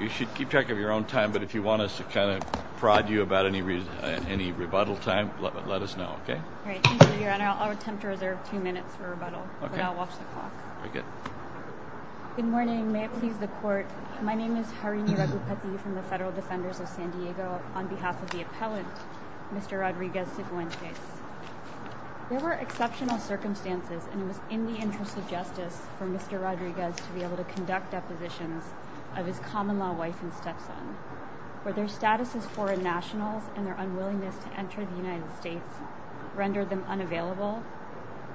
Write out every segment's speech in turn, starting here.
You should keep track of your own time, but if you want us to kind of prod you about any rebuttal time, let us know, okay? Great. Thank you, Your Honor. I'll attempt to reserve two minutes for rebuttal, but I'll watch the clock. Very good. Good morning. May it please the Court, my name is Harini Ragupathy from the Federal Defenders of San Diego, on behalf of the appellant, Mr. Rodriguez-Sifuentes. There were exceptional circumstances, and it was in the interest of justice for Mr. Rodriguez to be able to conduct depositions of his common-law wife and stepson, where their status as foreign nationals and their unwillingness to enter the United States rendered them unavailable,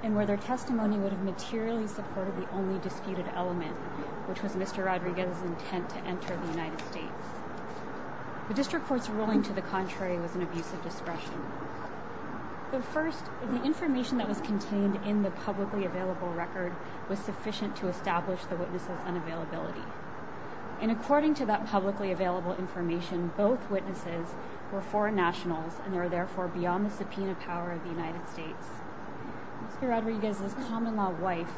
and where their testimony would have materially supported the only disputed element, which was Mr. Rodriguez's intent to enter the United States. The District Court's ruling to the contrary was an abuse of discretion. First, the information that was contained in the publicly available record was sufficient to establish the witness's unavailability. And according to that publicly available information, both witnesses were foreign nationals, and they were therefore beyond the subpoena power of the United States. Mr. Rodriguez's common-law wife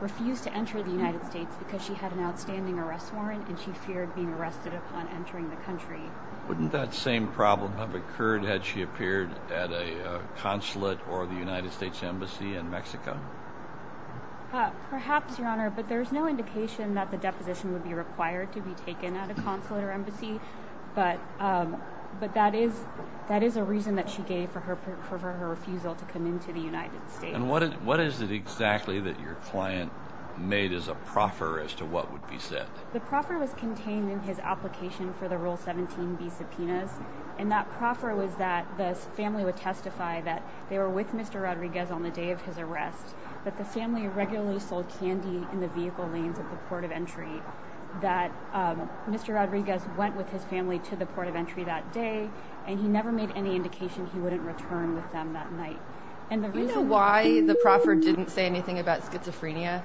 refused to enter the United States because she had an outstanding arrest warrant, and she feared being arrested upon entering the country. Wouldn't that same problem have occurred had she appeared at a consulate or the United States Embassy in Mexico? Perhaps, Your Honor, but there's no indication that the deposition would be required to be taken at a consulate or embassy, but that is a reason that she gave for her refusal to come into the United States. And what is it exactly that your client made as a proffer as to what would be said? The proffer was contained in his application for the Rule 17b subpoenas, and that proffer was that the family would testify that they were with Mr. Rodriguez on the day of his arrest, that the family regularly sold candy in the vehicle lanes at the port of entry, that Mr. Rodriguez went with his family to the port of entry that day, and he never made any indication he wouldn't return with them that night. Do you know why the proffer didn't say anything about schizophrenia?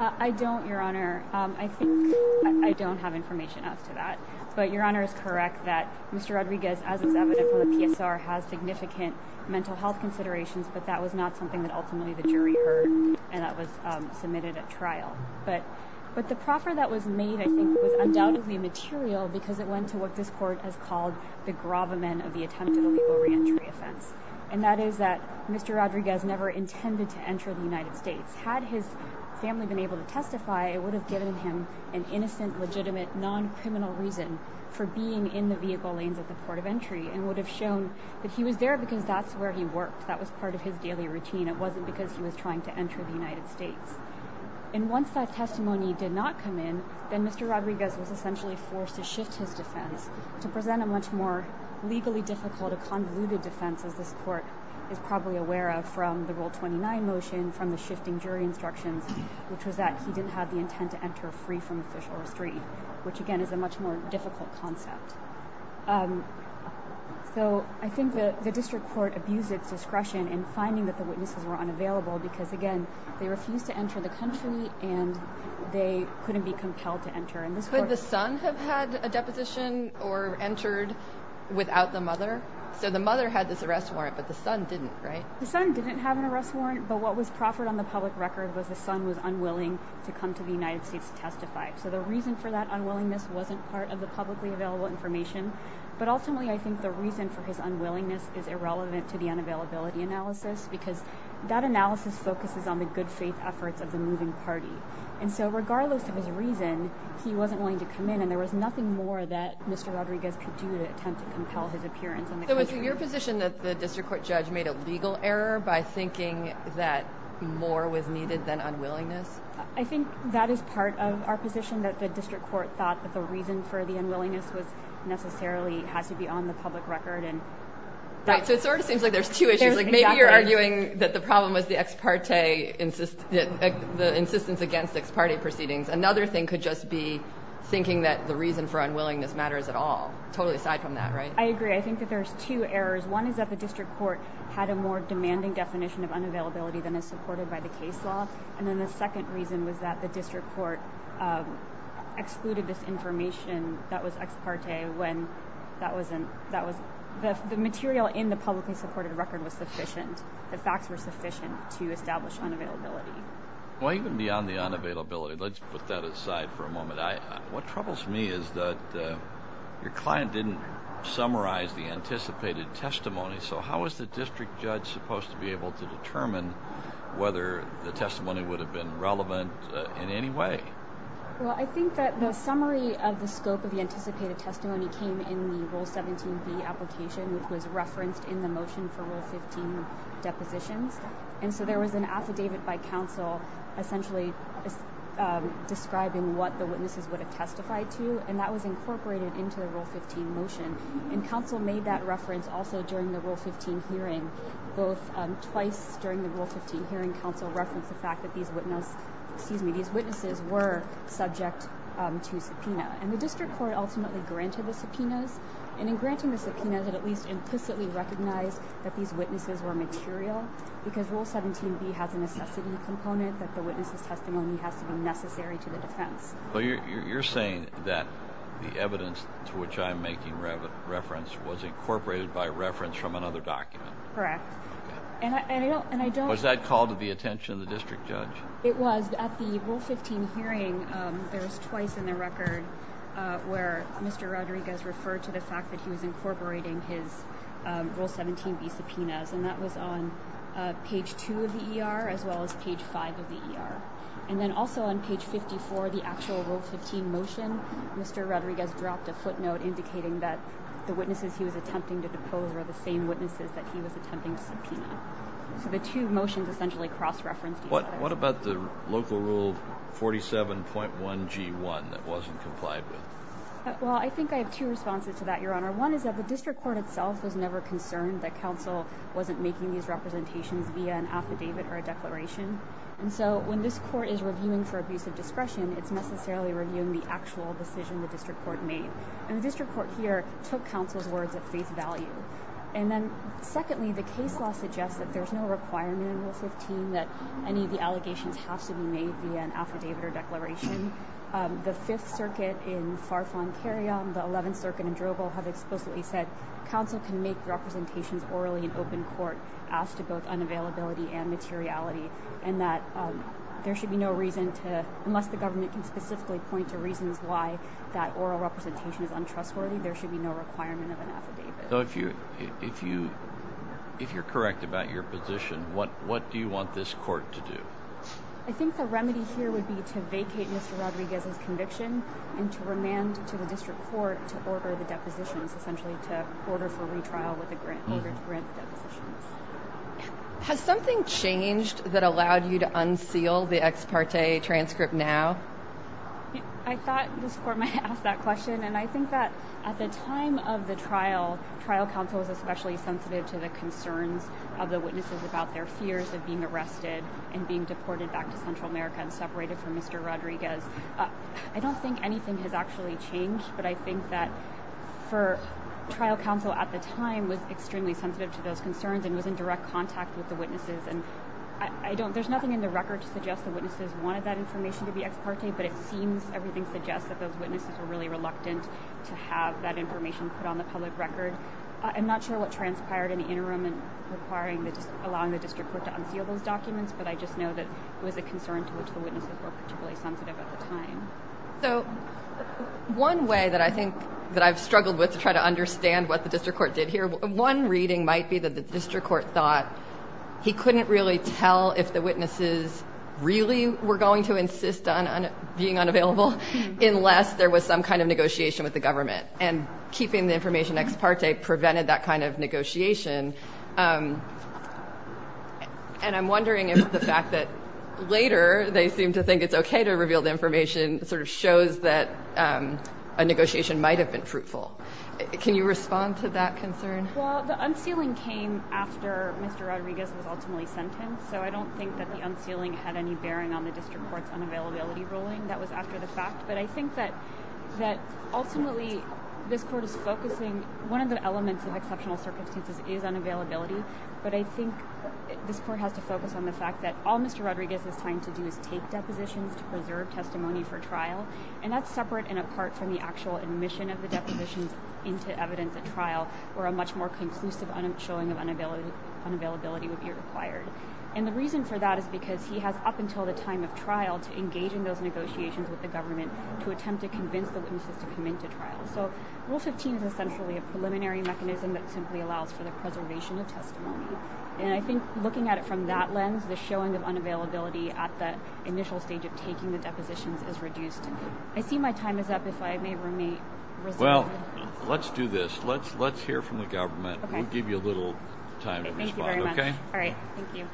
I don't, Your Honor. I think I don't have information as to that. But Your Honor is correct that Mr. Rodriguez, as is evident from the PSR, has significant mental health considerations, but that was not something that ultimately the jury heard, and that was submitted at trial. But the proffer that was made, I think, was undoubtedly material because it went to what this court has called the gravamen of the attempted illegal reentry offense, and that is that Mr. Rodriguez never intended to enter the United States. Had his family been able to testify, it would have given him an innocent, legitimate, non-criminal reason for being in the vehicle lanes at the port of entry and would have shown that he was there because that's where he worked, that was part of his daily routine, it wasn't because he was trying to enter the United States. And once that testimony did not come in, then Mr. Rodriguez was essentially forced to shift his defense to present a much more legally difficult, a convoluted defense, as this court is probably aware of from the Rule 29 motion, from the shifting jury instructions, which was that he didn't have the intent to enter free from official restraint, which, again, is a much more difficult concept. So I think that the district court abused its discretion in finding that the witnesses were unavailable because, again, they refused to enter the country and they couldn't be compelled to enter. Could the son have had a deposition or entered without the mother? So the mother had this arrest warrant, but the son didn't, right? The son didn't have an arrest warrant, but what was proffered on the public record was the son was unwilling to come to the United States to testify. So the reason for that unwillingness wasn't part of the publicly available information, but ultimately I think the reason for his unwillingness is irrelevant to the unavailability analysis because that analysis focuses on the good faith efforts of the moving party. And so regardless of his reason, he wasn't willing to come in, and there was nothing more that Mr. Rodriguez could do to attempt to compel his appearance in the country. So is it your position that the district court judge made a legal error by thinking that more was needed than unwillingness? I think that is part of our position, that the district court thought that the reason for the unwillingness necessarily has to be on the public record. Right, so it sort of seems like there's two issues. Maybe you're arguing that the problem was the insistence against ex parte proceedings. Another thing could just be thinking that the reason for unwillingness matters at all, totally aside from that, right? I agree. I think that there's two errors. One is that the district court had a more demanding definition of unavailability than is supported by the case law, and then the second reason was that the district court excluded this information that was ex parte. The material in the publicly supported record was sufficient. The facts were sufficient to establish unavailability. Well, even beyond the unavailability, let's put that aside for a moment. What troubles me is that your client didn't summarize the anticipated testimony, so how was the district judge supposed to be able to determine whether the testimony would have been relevant in any way? Well, I think that the summary of the scope of the anticipated testimony came in the Rule 17b application, which was referenced in the motion for Rule 15 depositions, and so there was an affidavit by counsel essentially describing what the witnesses would have testified to, and that was incorporated into the Rule 15 motion, and counsel made that reference also during the Rule 15 hearing. Both twice during the Rule 15 hearing, counsel referenced the fact that these witnesses were subject to subpoena, and the district court ultimately granted the subpoenas, and in granting the subpoenas, it at least implicitly recognized that these witnesses were material because Rule 17b has a necessity component that the witness's testimony has to be necessary to the defense. Well, you're saying that the evidence to which I'm making reference was incorporated by reference from another document? Correct. Okay. Was that called to the attention of the district judge? It was. At the Rule 15 hearing, there was twice in the record where Mr. Rodriguez referred to the fact that he was incorporating his Rule 17b subpoenas, and that was on page 2 of the ER as well as page 5 of the ER. And then also on page 54, the actual Rule 15 motion, Mr. Rodriguez dropped a footnote indicating that the witnesses he was attempting to depose were the same witnesses that he was attempting to subpoena. So the two motions essentially cross-referenced each other. What about the local Rule 47.1g1 that wasn't complied with? Well, I think I have two responses to that, Your Honor. One is that the district court itself was never concerned that counsel wasn't making these representations via an affidavit or a declaration, and so when this court is reviewing for abuse of discretion, it's necessarily reviewing the actual decision the district court made. And the district court here took counsel's words at face value. And then secondly, the case law suggests that there's no requirement in Rule 15 that any of the allegations have to be made via an affidavit or declaration. The Fifth Circuit in Far Foncaria and the Eleventh Circuit in Drobo have explicitly said counsel can make representations orally in open court as to both unavailability and materiality, and that there should be no reason to, unless the government can specifically point to reasons why that oral representation is untrustworthy, there should be no requirement of an affidavit. So if you're correct about your position, what do you want this court to do? I think the remedy here would be to vacate Mr. Rodriguez's conviction and to remand to the district court to order the depositions, essentially to order for retrial with a grant, order to grant the depositions. Has something changed that allowed you to unseal the ex parte transcript now? I thought this court might ask that question, and I think that at the time of the trial, trial counsel was especially sensitive to the concerns of the witnesses about their fears of being arrested and being deported back to Central America and separated from Mr. Rodriguez. I don't think anything has actually changed, but I think that trial counsel at the time was extremely sensitive to those concerns and was in direct contact with the witnesses. There's nothing in the record to suggest the witnesses wanted that information to be ex parte, but it seems everything suggests that those witnesses were really reluctant to have that information put on the public record. I'm not sure what transpired in the interim in allowing the district court to unseal those documents, but I just know that it was a concern to which the witnesses were particularly sensitive at the time. So one way that I think that I've struggled with to try to understand what the district court did here, one reading might be that the district court thought he couldn't really tell if the witnesses really were going to insist on being unavailable unless there was some kind of negotiation with the government, and keeping the information ex parte prevented that kind of negotiation. And I'm wondering if the fact that later they seem to think it's okay to reveal the information sort of shows that a negotiation might have been fruitful. Can you respond to that concern? Well, the unsealing came after Mr. Rodriguez was ultimately sentenced, so I don't think that the unsealing had any bearing on the district court's unavailability ruling. That was after the fact, but I think that ultimately this court is focusing, one of the elements of exceptional circumstances is unavailability, but I think this court has to focus on the fact that all Mr. Rodriguez is trying to do is take depositions to preserve testimony for trial, and that's separate and apart from the actual admission of the depositions into evidence at trial, where a much more conclusive showing of unavailability would be required. And the reason for that is because he has up until the time of trial to engage in those negotiations with the government to attempt to convince the witnesses to come into trial. So Rule 15 is essentially a preliminary mechanism that simply allows for the preservation of testimony, and I think looking at it from that lens, the showing of unavailability at the initial stage of taking the depositions is reduced. I see my time is up. If I may resume. Well, let's do this. Let's hear from the government. We'll give you a little time to respond. Thank you very much. All right. Thank you.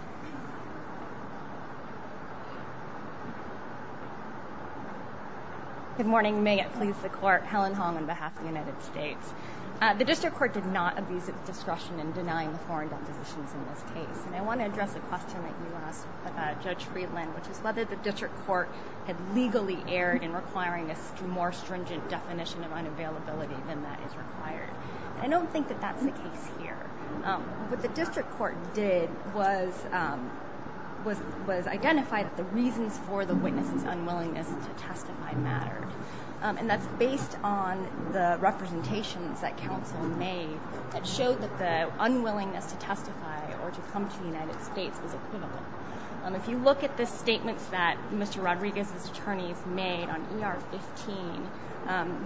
Good morning. May it please the Court. Helen Hong on behalf of the United States. The district court did not abuse its discretion in denying the foreign depositions in this case, and I want to address a question that you asked Judge Friedland, which is whether the district court had legally erred in requiring a more stringent definition of unavailability than that is required. I don't think that that's the case here. What the district court did was identify that the reasons for the witness's unwillingness to testify mattered, and that's based on the representations that counsel made that showed that the unwillingness to testify or to come to the United States was equivalent. If you look at the statements that Mr. Rodriguez's attorneys made on ER 15,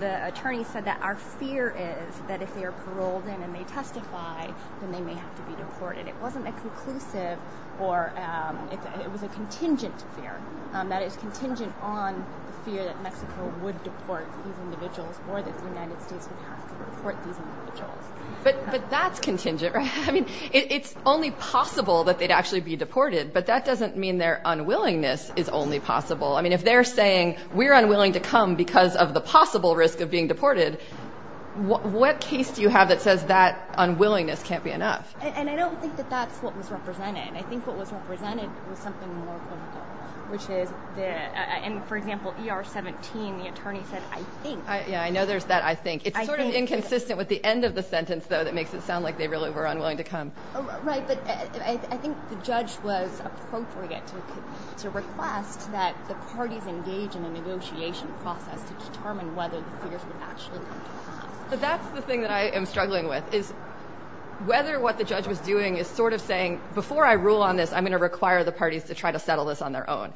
the attorney said that our fear is that if they are paroled in and they testify, then they may have to be deported. It wasn't a conclusive or it was a contingent fear. That is contingent on the fear that Mexico would deport these individuals or that the United States would have to deport these individuals. But that's contingent, right? I mean, it's only possible that they'd actually be deported, but that doesn't mean their unwillingness is only possible. I mean, if they're saying we're unwilling to come because of the possible risk of being deported, what case do you have that says that unwillingness can't be enough? And I don't think that that's what was represented. I think what was represented was something more political, which is, for example, ER 17, the attorney said, I think. Yeah, I know there's that I think. It's sort of inconsistent with the end of the sentence, though, that makes it sound like they really were unwilling to come. Right, but I think the judge was appropriate to request that the parties engage in a negotiation process to determine whether the fears would actually come to pass. But that's the thing that I am struggling with is whether what the judge was doing is sort of saying before I rule on this, I'm going to require the parties to try to settle this on their own.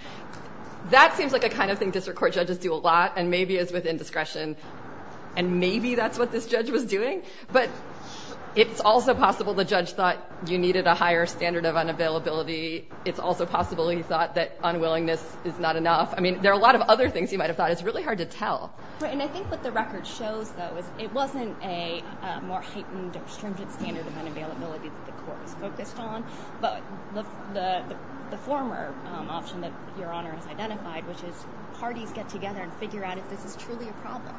That seems like a kind of thing district court judges do a lot and maybe is within discretion and maybe that's what this judge was doing. But it's also possible the judge thought you needed a higher standard of unavailability. It's also possible he thought that unwillingness is not enough. I mean, there are a lot of other things you might have thought is really hard to tell. And I think what the record shows, though, is it wasn't a more heightened or stringent standard of unavailability that the court was focused on. But the former option that Your Honor has identified, which is parties get together and figure out if this is truly a problem.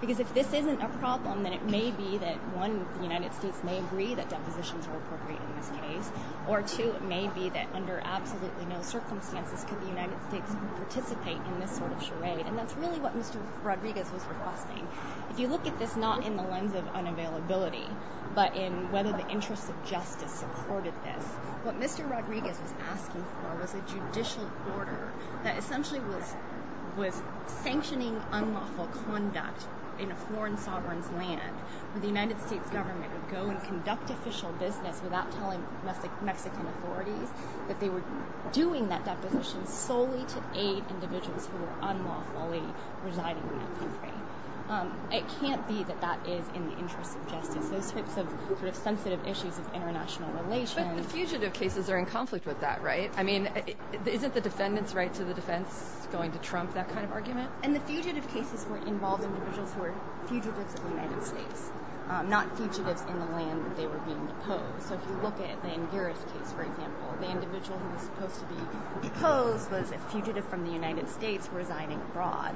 Because if this isn't a problem, then it may be that one, the United States may agree that depositions are appropriate in this case. Or two, it may be that under absolutely no circumstances could the United States participate in this sort of charade. And that's really what Mr. Rodriguez was requesting. If you look at this not in the lens of unavailability, but in whether the interests of justice supported this, what Mr. Rodriguez was asking for was a judicial order that essentially was sanctioning unlawful conduct in a foreign sovereign's land where the United States government would go and conduct official business without telling Mexican authorities that they were doing that deposition solely to aid individuals who were unlawfully residing in that country. It can't be that that is in the interest of justice. Those types of sensitive issues of international relations. But the fugitive cases are in conflict with that, right? I mean, isn't the defendant's right to the defense going to trump that kind of argument? And the fugitive cases were involving individuals who were fugitives of the United States, not fugitives in the land that they were being deposed. So if you look at the Ingeris case, for example, the individual who was supposed to be deposed was a fugitive from the United States residing abroad.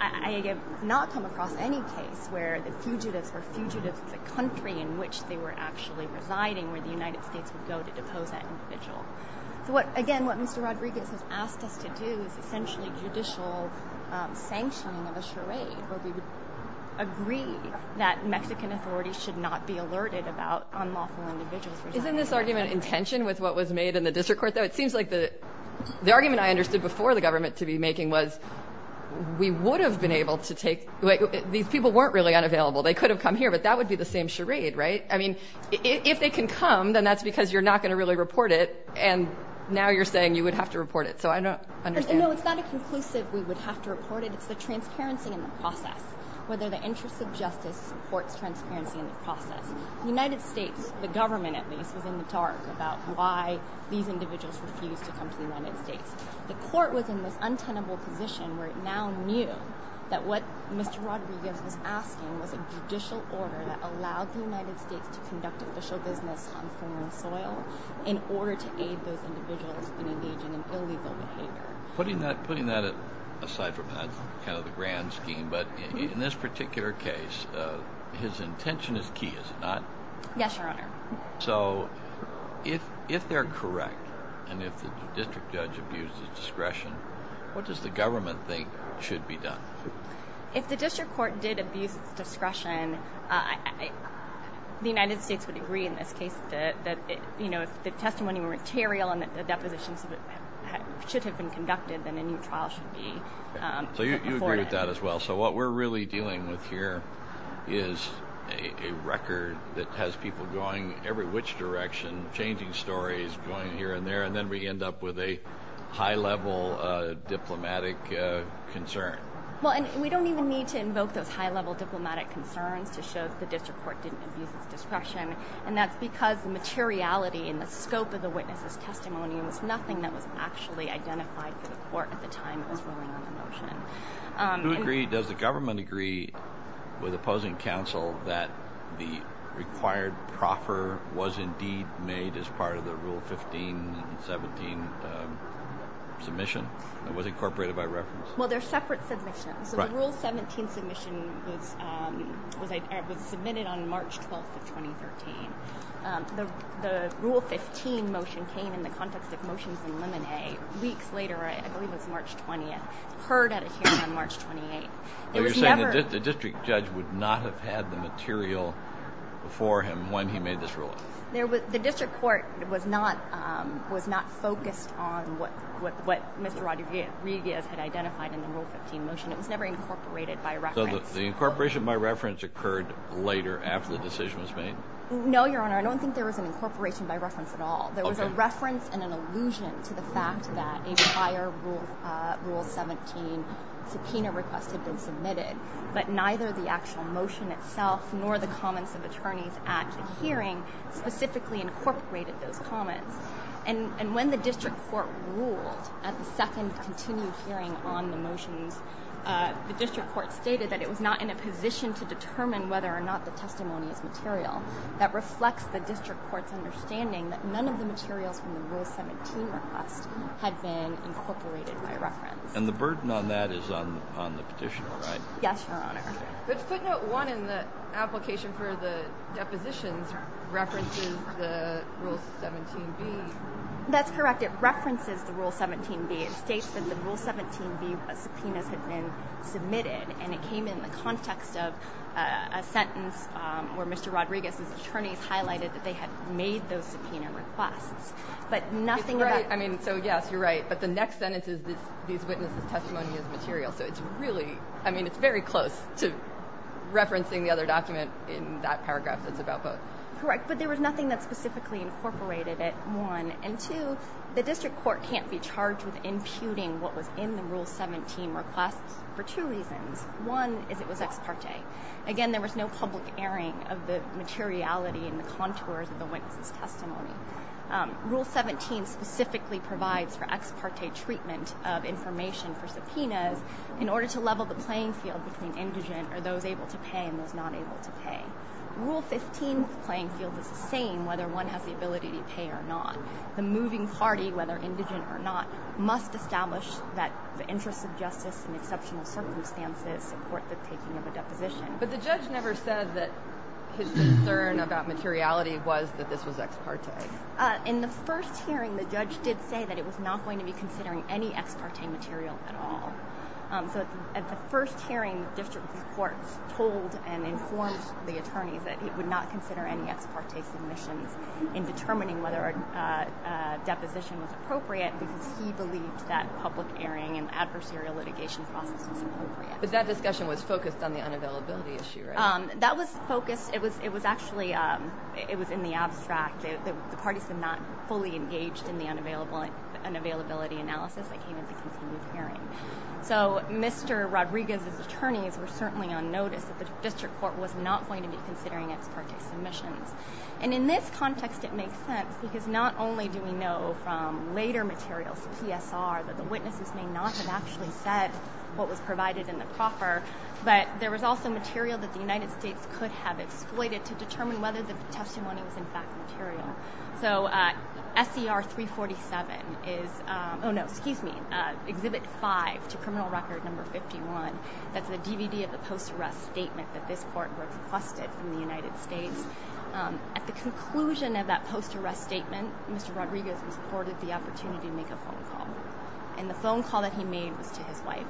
I have not come across any case where the fugitives were fugitives of the country in which they were actually residing, where the United States would go to depose that individual. So again, what Mr. Rodriguez has asked us to do is essentially judicial sanctioning of a charade where we would agree that Mexican authorities should not be alerted about unlawful individuals. Isn't this argument in tension with what was made in the district court, though? It seems like the argument I understood before the government to be making was we would have been able to take. These people weren't really unavailable. They could have come here, but that would be the same charade, right? I mean, if they can come, then that's because you're not going to really report it. And now you're saying you would have to report it. So I don't understand. No, it's not a conclusive we would have to report it. It's the transparency in the process, whether the interest of justice supports transparency in the process. The United States, the government at least, was in the dark about why these individuals refused to come to the United States. The court was in this untenable position where it now knew that what Mr. Rodriguez was asking was a judicial order that allowed the United States to conduct official business on foreign soil in order to aid those individuals in engaging in illegal behavior. Putting that aside from that kind of the grand scheme, but in this particular case, his intention is key, is it not? Yes, Your Honor. So if they're correct and if the district judge abuses discretion, what does the government think should be done? If the district court did abuse discretion, the United States would agree in this case that, you know, if the testimony were material and the depositions should have been conducted, then a new trial should be afforded. So you agree with that as well. So what we're really dealing with here is a record that has people going every which direction, changing stories, going here and there, and then we end up with a high-level diplomatic concern. Well, and we don't even need to invoke those high-level diplomatic concerns to show that the district court didn't abuse its discretion. And that's because the materiality and the scope of the witness's testimony was nothing that was actually identified to the court at the time it was ruling on the motion. Do you agree, does the government agree with opposing counsel that the required proffer was indeed made as part of the Rule 15 and 17 submission that was incorporated by reference? Well, they're separate submissions. So the Rule 17 submission was submitted on March 12th of 2013. The Rule 15 motion came in the context of motions in Lemonhead weeks later, I believe it was March 20th, heard at a hearing on March 28th. You're saying that the district judge would not have had the material before him when he made this ruling? The district court was not focused on what Mr. Rodriguez had identified in the Rule 15 motion. It was never incorporated by reference. So the incorporation by reference occurred later after the decision was made? No, Your Honor, I don't think there was an incorporation by reference at all. There was a reference and an allusion to the fact that a prior Rule 17 subpoena request had been submitted, but neither the actual motion itself nor the comments of attorneys at the hearing specifically incorporated those comments. And when the district court ruled at the second continued hearing on the motions, the district court stated that it was not in a position to determine whether or not the testimony is material. That reflects the district court's understanding that none of the materials from the Rule 17 request had been incorporated by reference. And the burden on that is on the petitioner, right? Yes, Your Honor. But Footnote 1 in the application for the depositions references the Rule 17b. That's correct. It references the Rule 17b. It states that the Rule 17b subpoenas had been submitted, and it came in the context of a sentence where Mr. Rodriguez's attorneys highlighted that they had made those subpoena requests. I mean, so yes, you're right, but the next sentence is these witnesses' testimony is material. So it's really, I mean, it's very close to referencing the other document in that paragraph that's about both. Correct, but there was nothing that specifically incorporated it, one. And two, the district court can't be charged with imputing what was in the Rule 17 request for two reasons. One is it was ex parte. Again, there was no public airing of the materiality and the contours of the witnesses' testimony. Rule 17 specifically provides for ex parte treatment of information for subpoenas in order to level the playing field between indigent or those able to pay and those not able to pay. Rule 15's playing field is the same whether one has the ability to pay or not. The moving party, whether indigent or not, must establish that the interests of justice in exceptional circumstances support the taking of a deposition. But the judge never said that his concern about materiality was that this was ex parte. In the first hearing, the judge did say that it was not going to be considering any ex parte material at all. So at the first hearing, the district court told and informed the attorneys that it would not consider any ex parte submissions in determining whether a deposition was appropriate because he believed that public airing and adversarial litigation process was appropriate. But that discussion was focused on the unavailability issue, right? That was focused. It was actually in the abstract. The parties had not fully engaged in the unavailability analysis that came at the continued hearing. So Mr. Rodriguez's attorneys were certainly on notice that the district court was not going to be considering ex parte submissions. And in this context, it makes sense because not only do we know from later materials, PSR, that the witnesses may not have actually said what was provided in the proffer, but there was also material that the United States could have exploited to determine whether the testimony was in fact material. So SER 347 is, oh no, excuse me, Exhibit 5 to Criminal Record No. 51. That's the DVD of the post-arrest statement that this court requested from the United States. At the conclusion of that post-arrest statement, Mr. Rodriguez was afforded the opportunity to make a phone call. And the phone call that he made was to his wife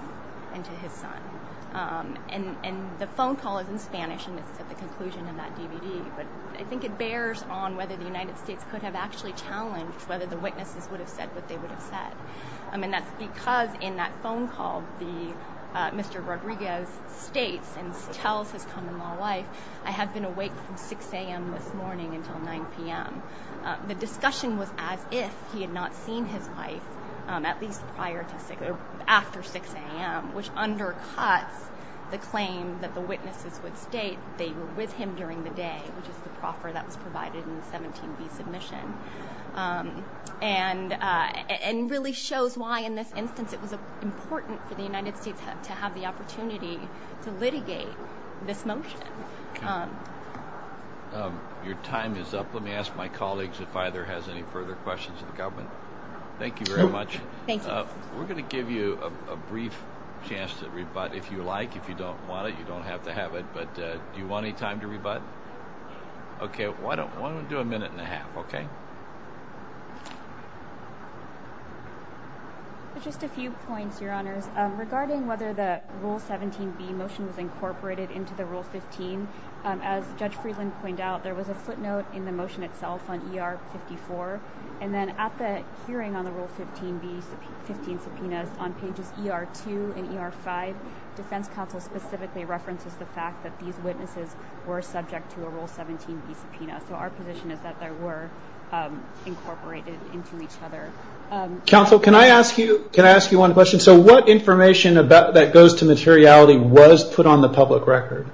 and to his son. And the phone call is in Spanish, and it's at the conclusion of that DVD. But I think it bears on whether the United States could have actually challenged whether the witnesses would have said what they would have said. And that's because in that phone call, Mr. Rodriguez states and tells his common law wife, I have been awake from 6 a.m. this morning until 9 p.m. The discussion was as if he had not seen his wife at least after 6 a.m., which undercuts the claim that the witnesses would state they were with him during the day, which is the proffer that was provided in the 17B submission. And really shows why in this instance it was important for the United States to have the opportunity to litigate this motion. Your time is up. Let me ask my colleagues if either has any further questions of the government. Thank you very much. Thank you. We're going to give you a brief chance to rebut if you like. If you don't want it, you don't have to have it. But do you want any time to rebut? Yes. Okay. Why don't we do a minute and a half, okay? Just a few points, Your Honors. Regarding whether the Rule 17B motion was incorporated into the Rule 15, as Judge Friedland pointed out, there was a footnote in the motion itself on ER 54. And then at the hearing on the Rule 15B subpoenas on pages ER 2 and ER 5, the defense counsel specifically references the fact that these witnesses were subject to a Rule 17B subpoena. So our position is that they were incorporated into each other. Counsel, can I ask you one question? So what information that goes to materiality was put on the public record?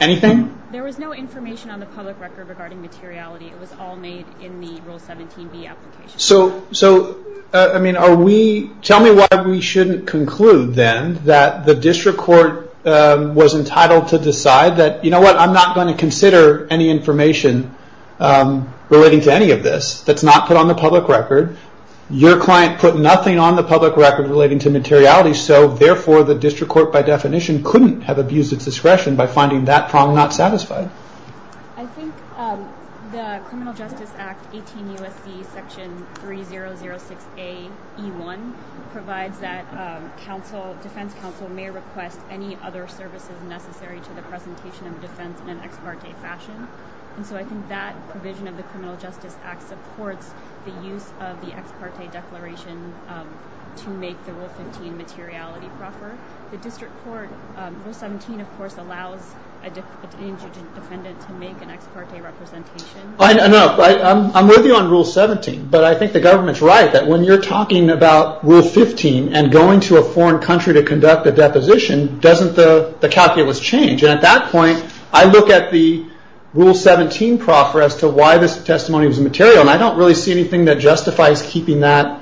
Anything? There was no information on the public record regarding materiality. It was all made in the Rule 17B application. So tell me why we shouldn't conclude, then, that the district court was entitled to decide that, you know what, I'm not going to consider any information relating to any of this that's not put on the public record. Your client put nothing on the public record relating to materiality, so therefore the district court, by definition, couldn't have abused its discretion by finding that prong not satisfied. I think the Criminal Justice Act 18 U.S.C. section 3006AE1 provides that defense counsel may request any other services necessary to the presentation of defense in an ex parte fashion. And so I think that provision of the Criminal Justice Act supports the use of the ex parte declaration to make the Rule 15 materiality proffer. The district court, Rule 17, of course, allows a defendant to make an ex parte representation. I'm with you on Rule 17, but I think the government's right that when you're talking about Rule 15 and going to a foreign country to conduct a deposition, doesn't the calculus change? And at that point, I look at the Rule 17 proffer as to why this testimony was material, and I don't really see anything that justifies keeping that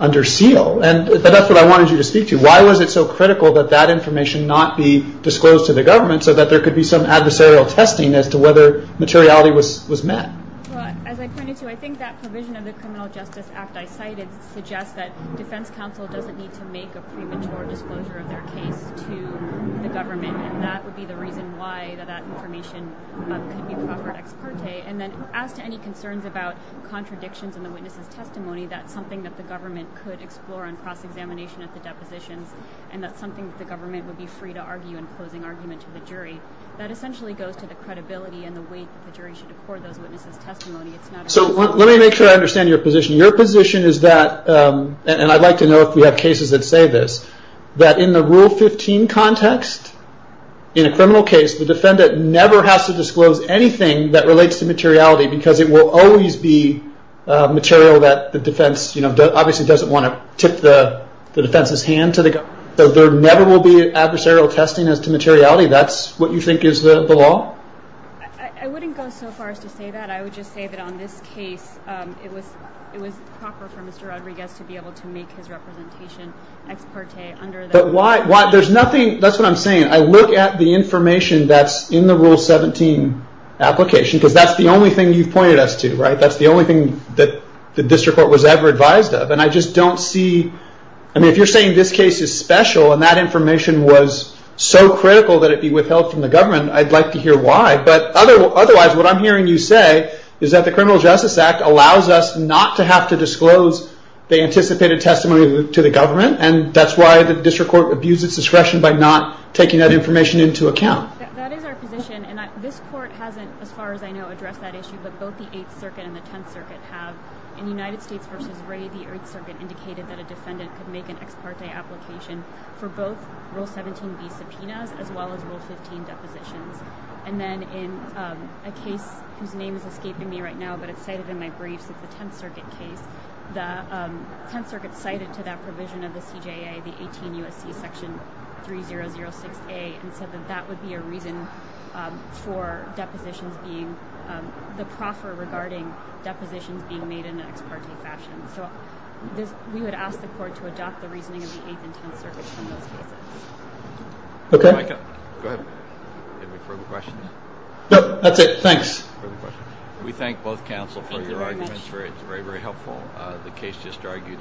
under seal. But that's what I wanted you to speak to. Why was it so critical that that information not be disclosed to the government so that there could be some adversarial testing as to whether materiality was met? Well, as I pointed to, I think that provision of the Criminal Justice Act I cited suggests that defense counsel doesn't need to make a premature disclosure of their case to the government, and that would be the reason why that information could be proffered ex parte. And then as to any concerns about contradictions in the witness's testimony, that's something that the government could explore on cross-examination at the depositions, and that's something that the government would be free to argue in closing argument to the jury. That essentially goes to the credibility and the weight that the jury should accord those witnesses' testimony. So let me make sure I understand your position. Your position is that, and I'd like to know if we have cases that say this, that in the Rule 15 context, in a criminal case, the defendant never has to disclose anything that relates to materiality because it will always be material that the defense, you know, obviously doesn't want to tip the defense's hand to the government. There never will be adversarial testing as to materiality. That's what you think is the law? I wouldn't go so far as to say that. I would just say that on this case, it was proper for Mr. Rodriguez to be able to make his representation ex parte under the law. But why, there's nothing, that's what I'm saying. I look at the information that's in the Rule 17 application because that's the only thing you've pointed us to, right? That's the only thing that the district court was ever advised of. And I just don't see, I mean if you're saying this case is special and that information was so critical that it be withheld from the government, I'd like to hear why. But otherwise, what I'm hearing you say is that the Criminal Justice Act allows us not to have to disclose the anticipated testimony to the government and that's why the district court abused its discretion by not taking that information into account. That is our position, and this court hasn't, as far as I know, addressed that issue, but both the 8th Circuit and the 10th Circuit have. In United States v. Ray, the 8th Circuit indicated that a defendant could make an ex parte application for both Rule 17b subpoenas as well as Rule 15 depositions. And then in a case whose name is escaping me right now, but it's cited in my briefs, it's the 10th Circuit case. The 10th Circuit cited to that provision of the CJA the 18 U.S.C. section 3006a and said that that would be a reason for depositions being, the proffer regarding depositions being made in an ex parte fashion. So we would ask the court to adopt the reasoning of the 8th and 10th Circuits from those cases. Okay. Go ahead. Any further questions? No, that's it. Thanks. Further questions? We thank both counsel for your arguments. Thank you very much. It's very, very helpful. The case just argued.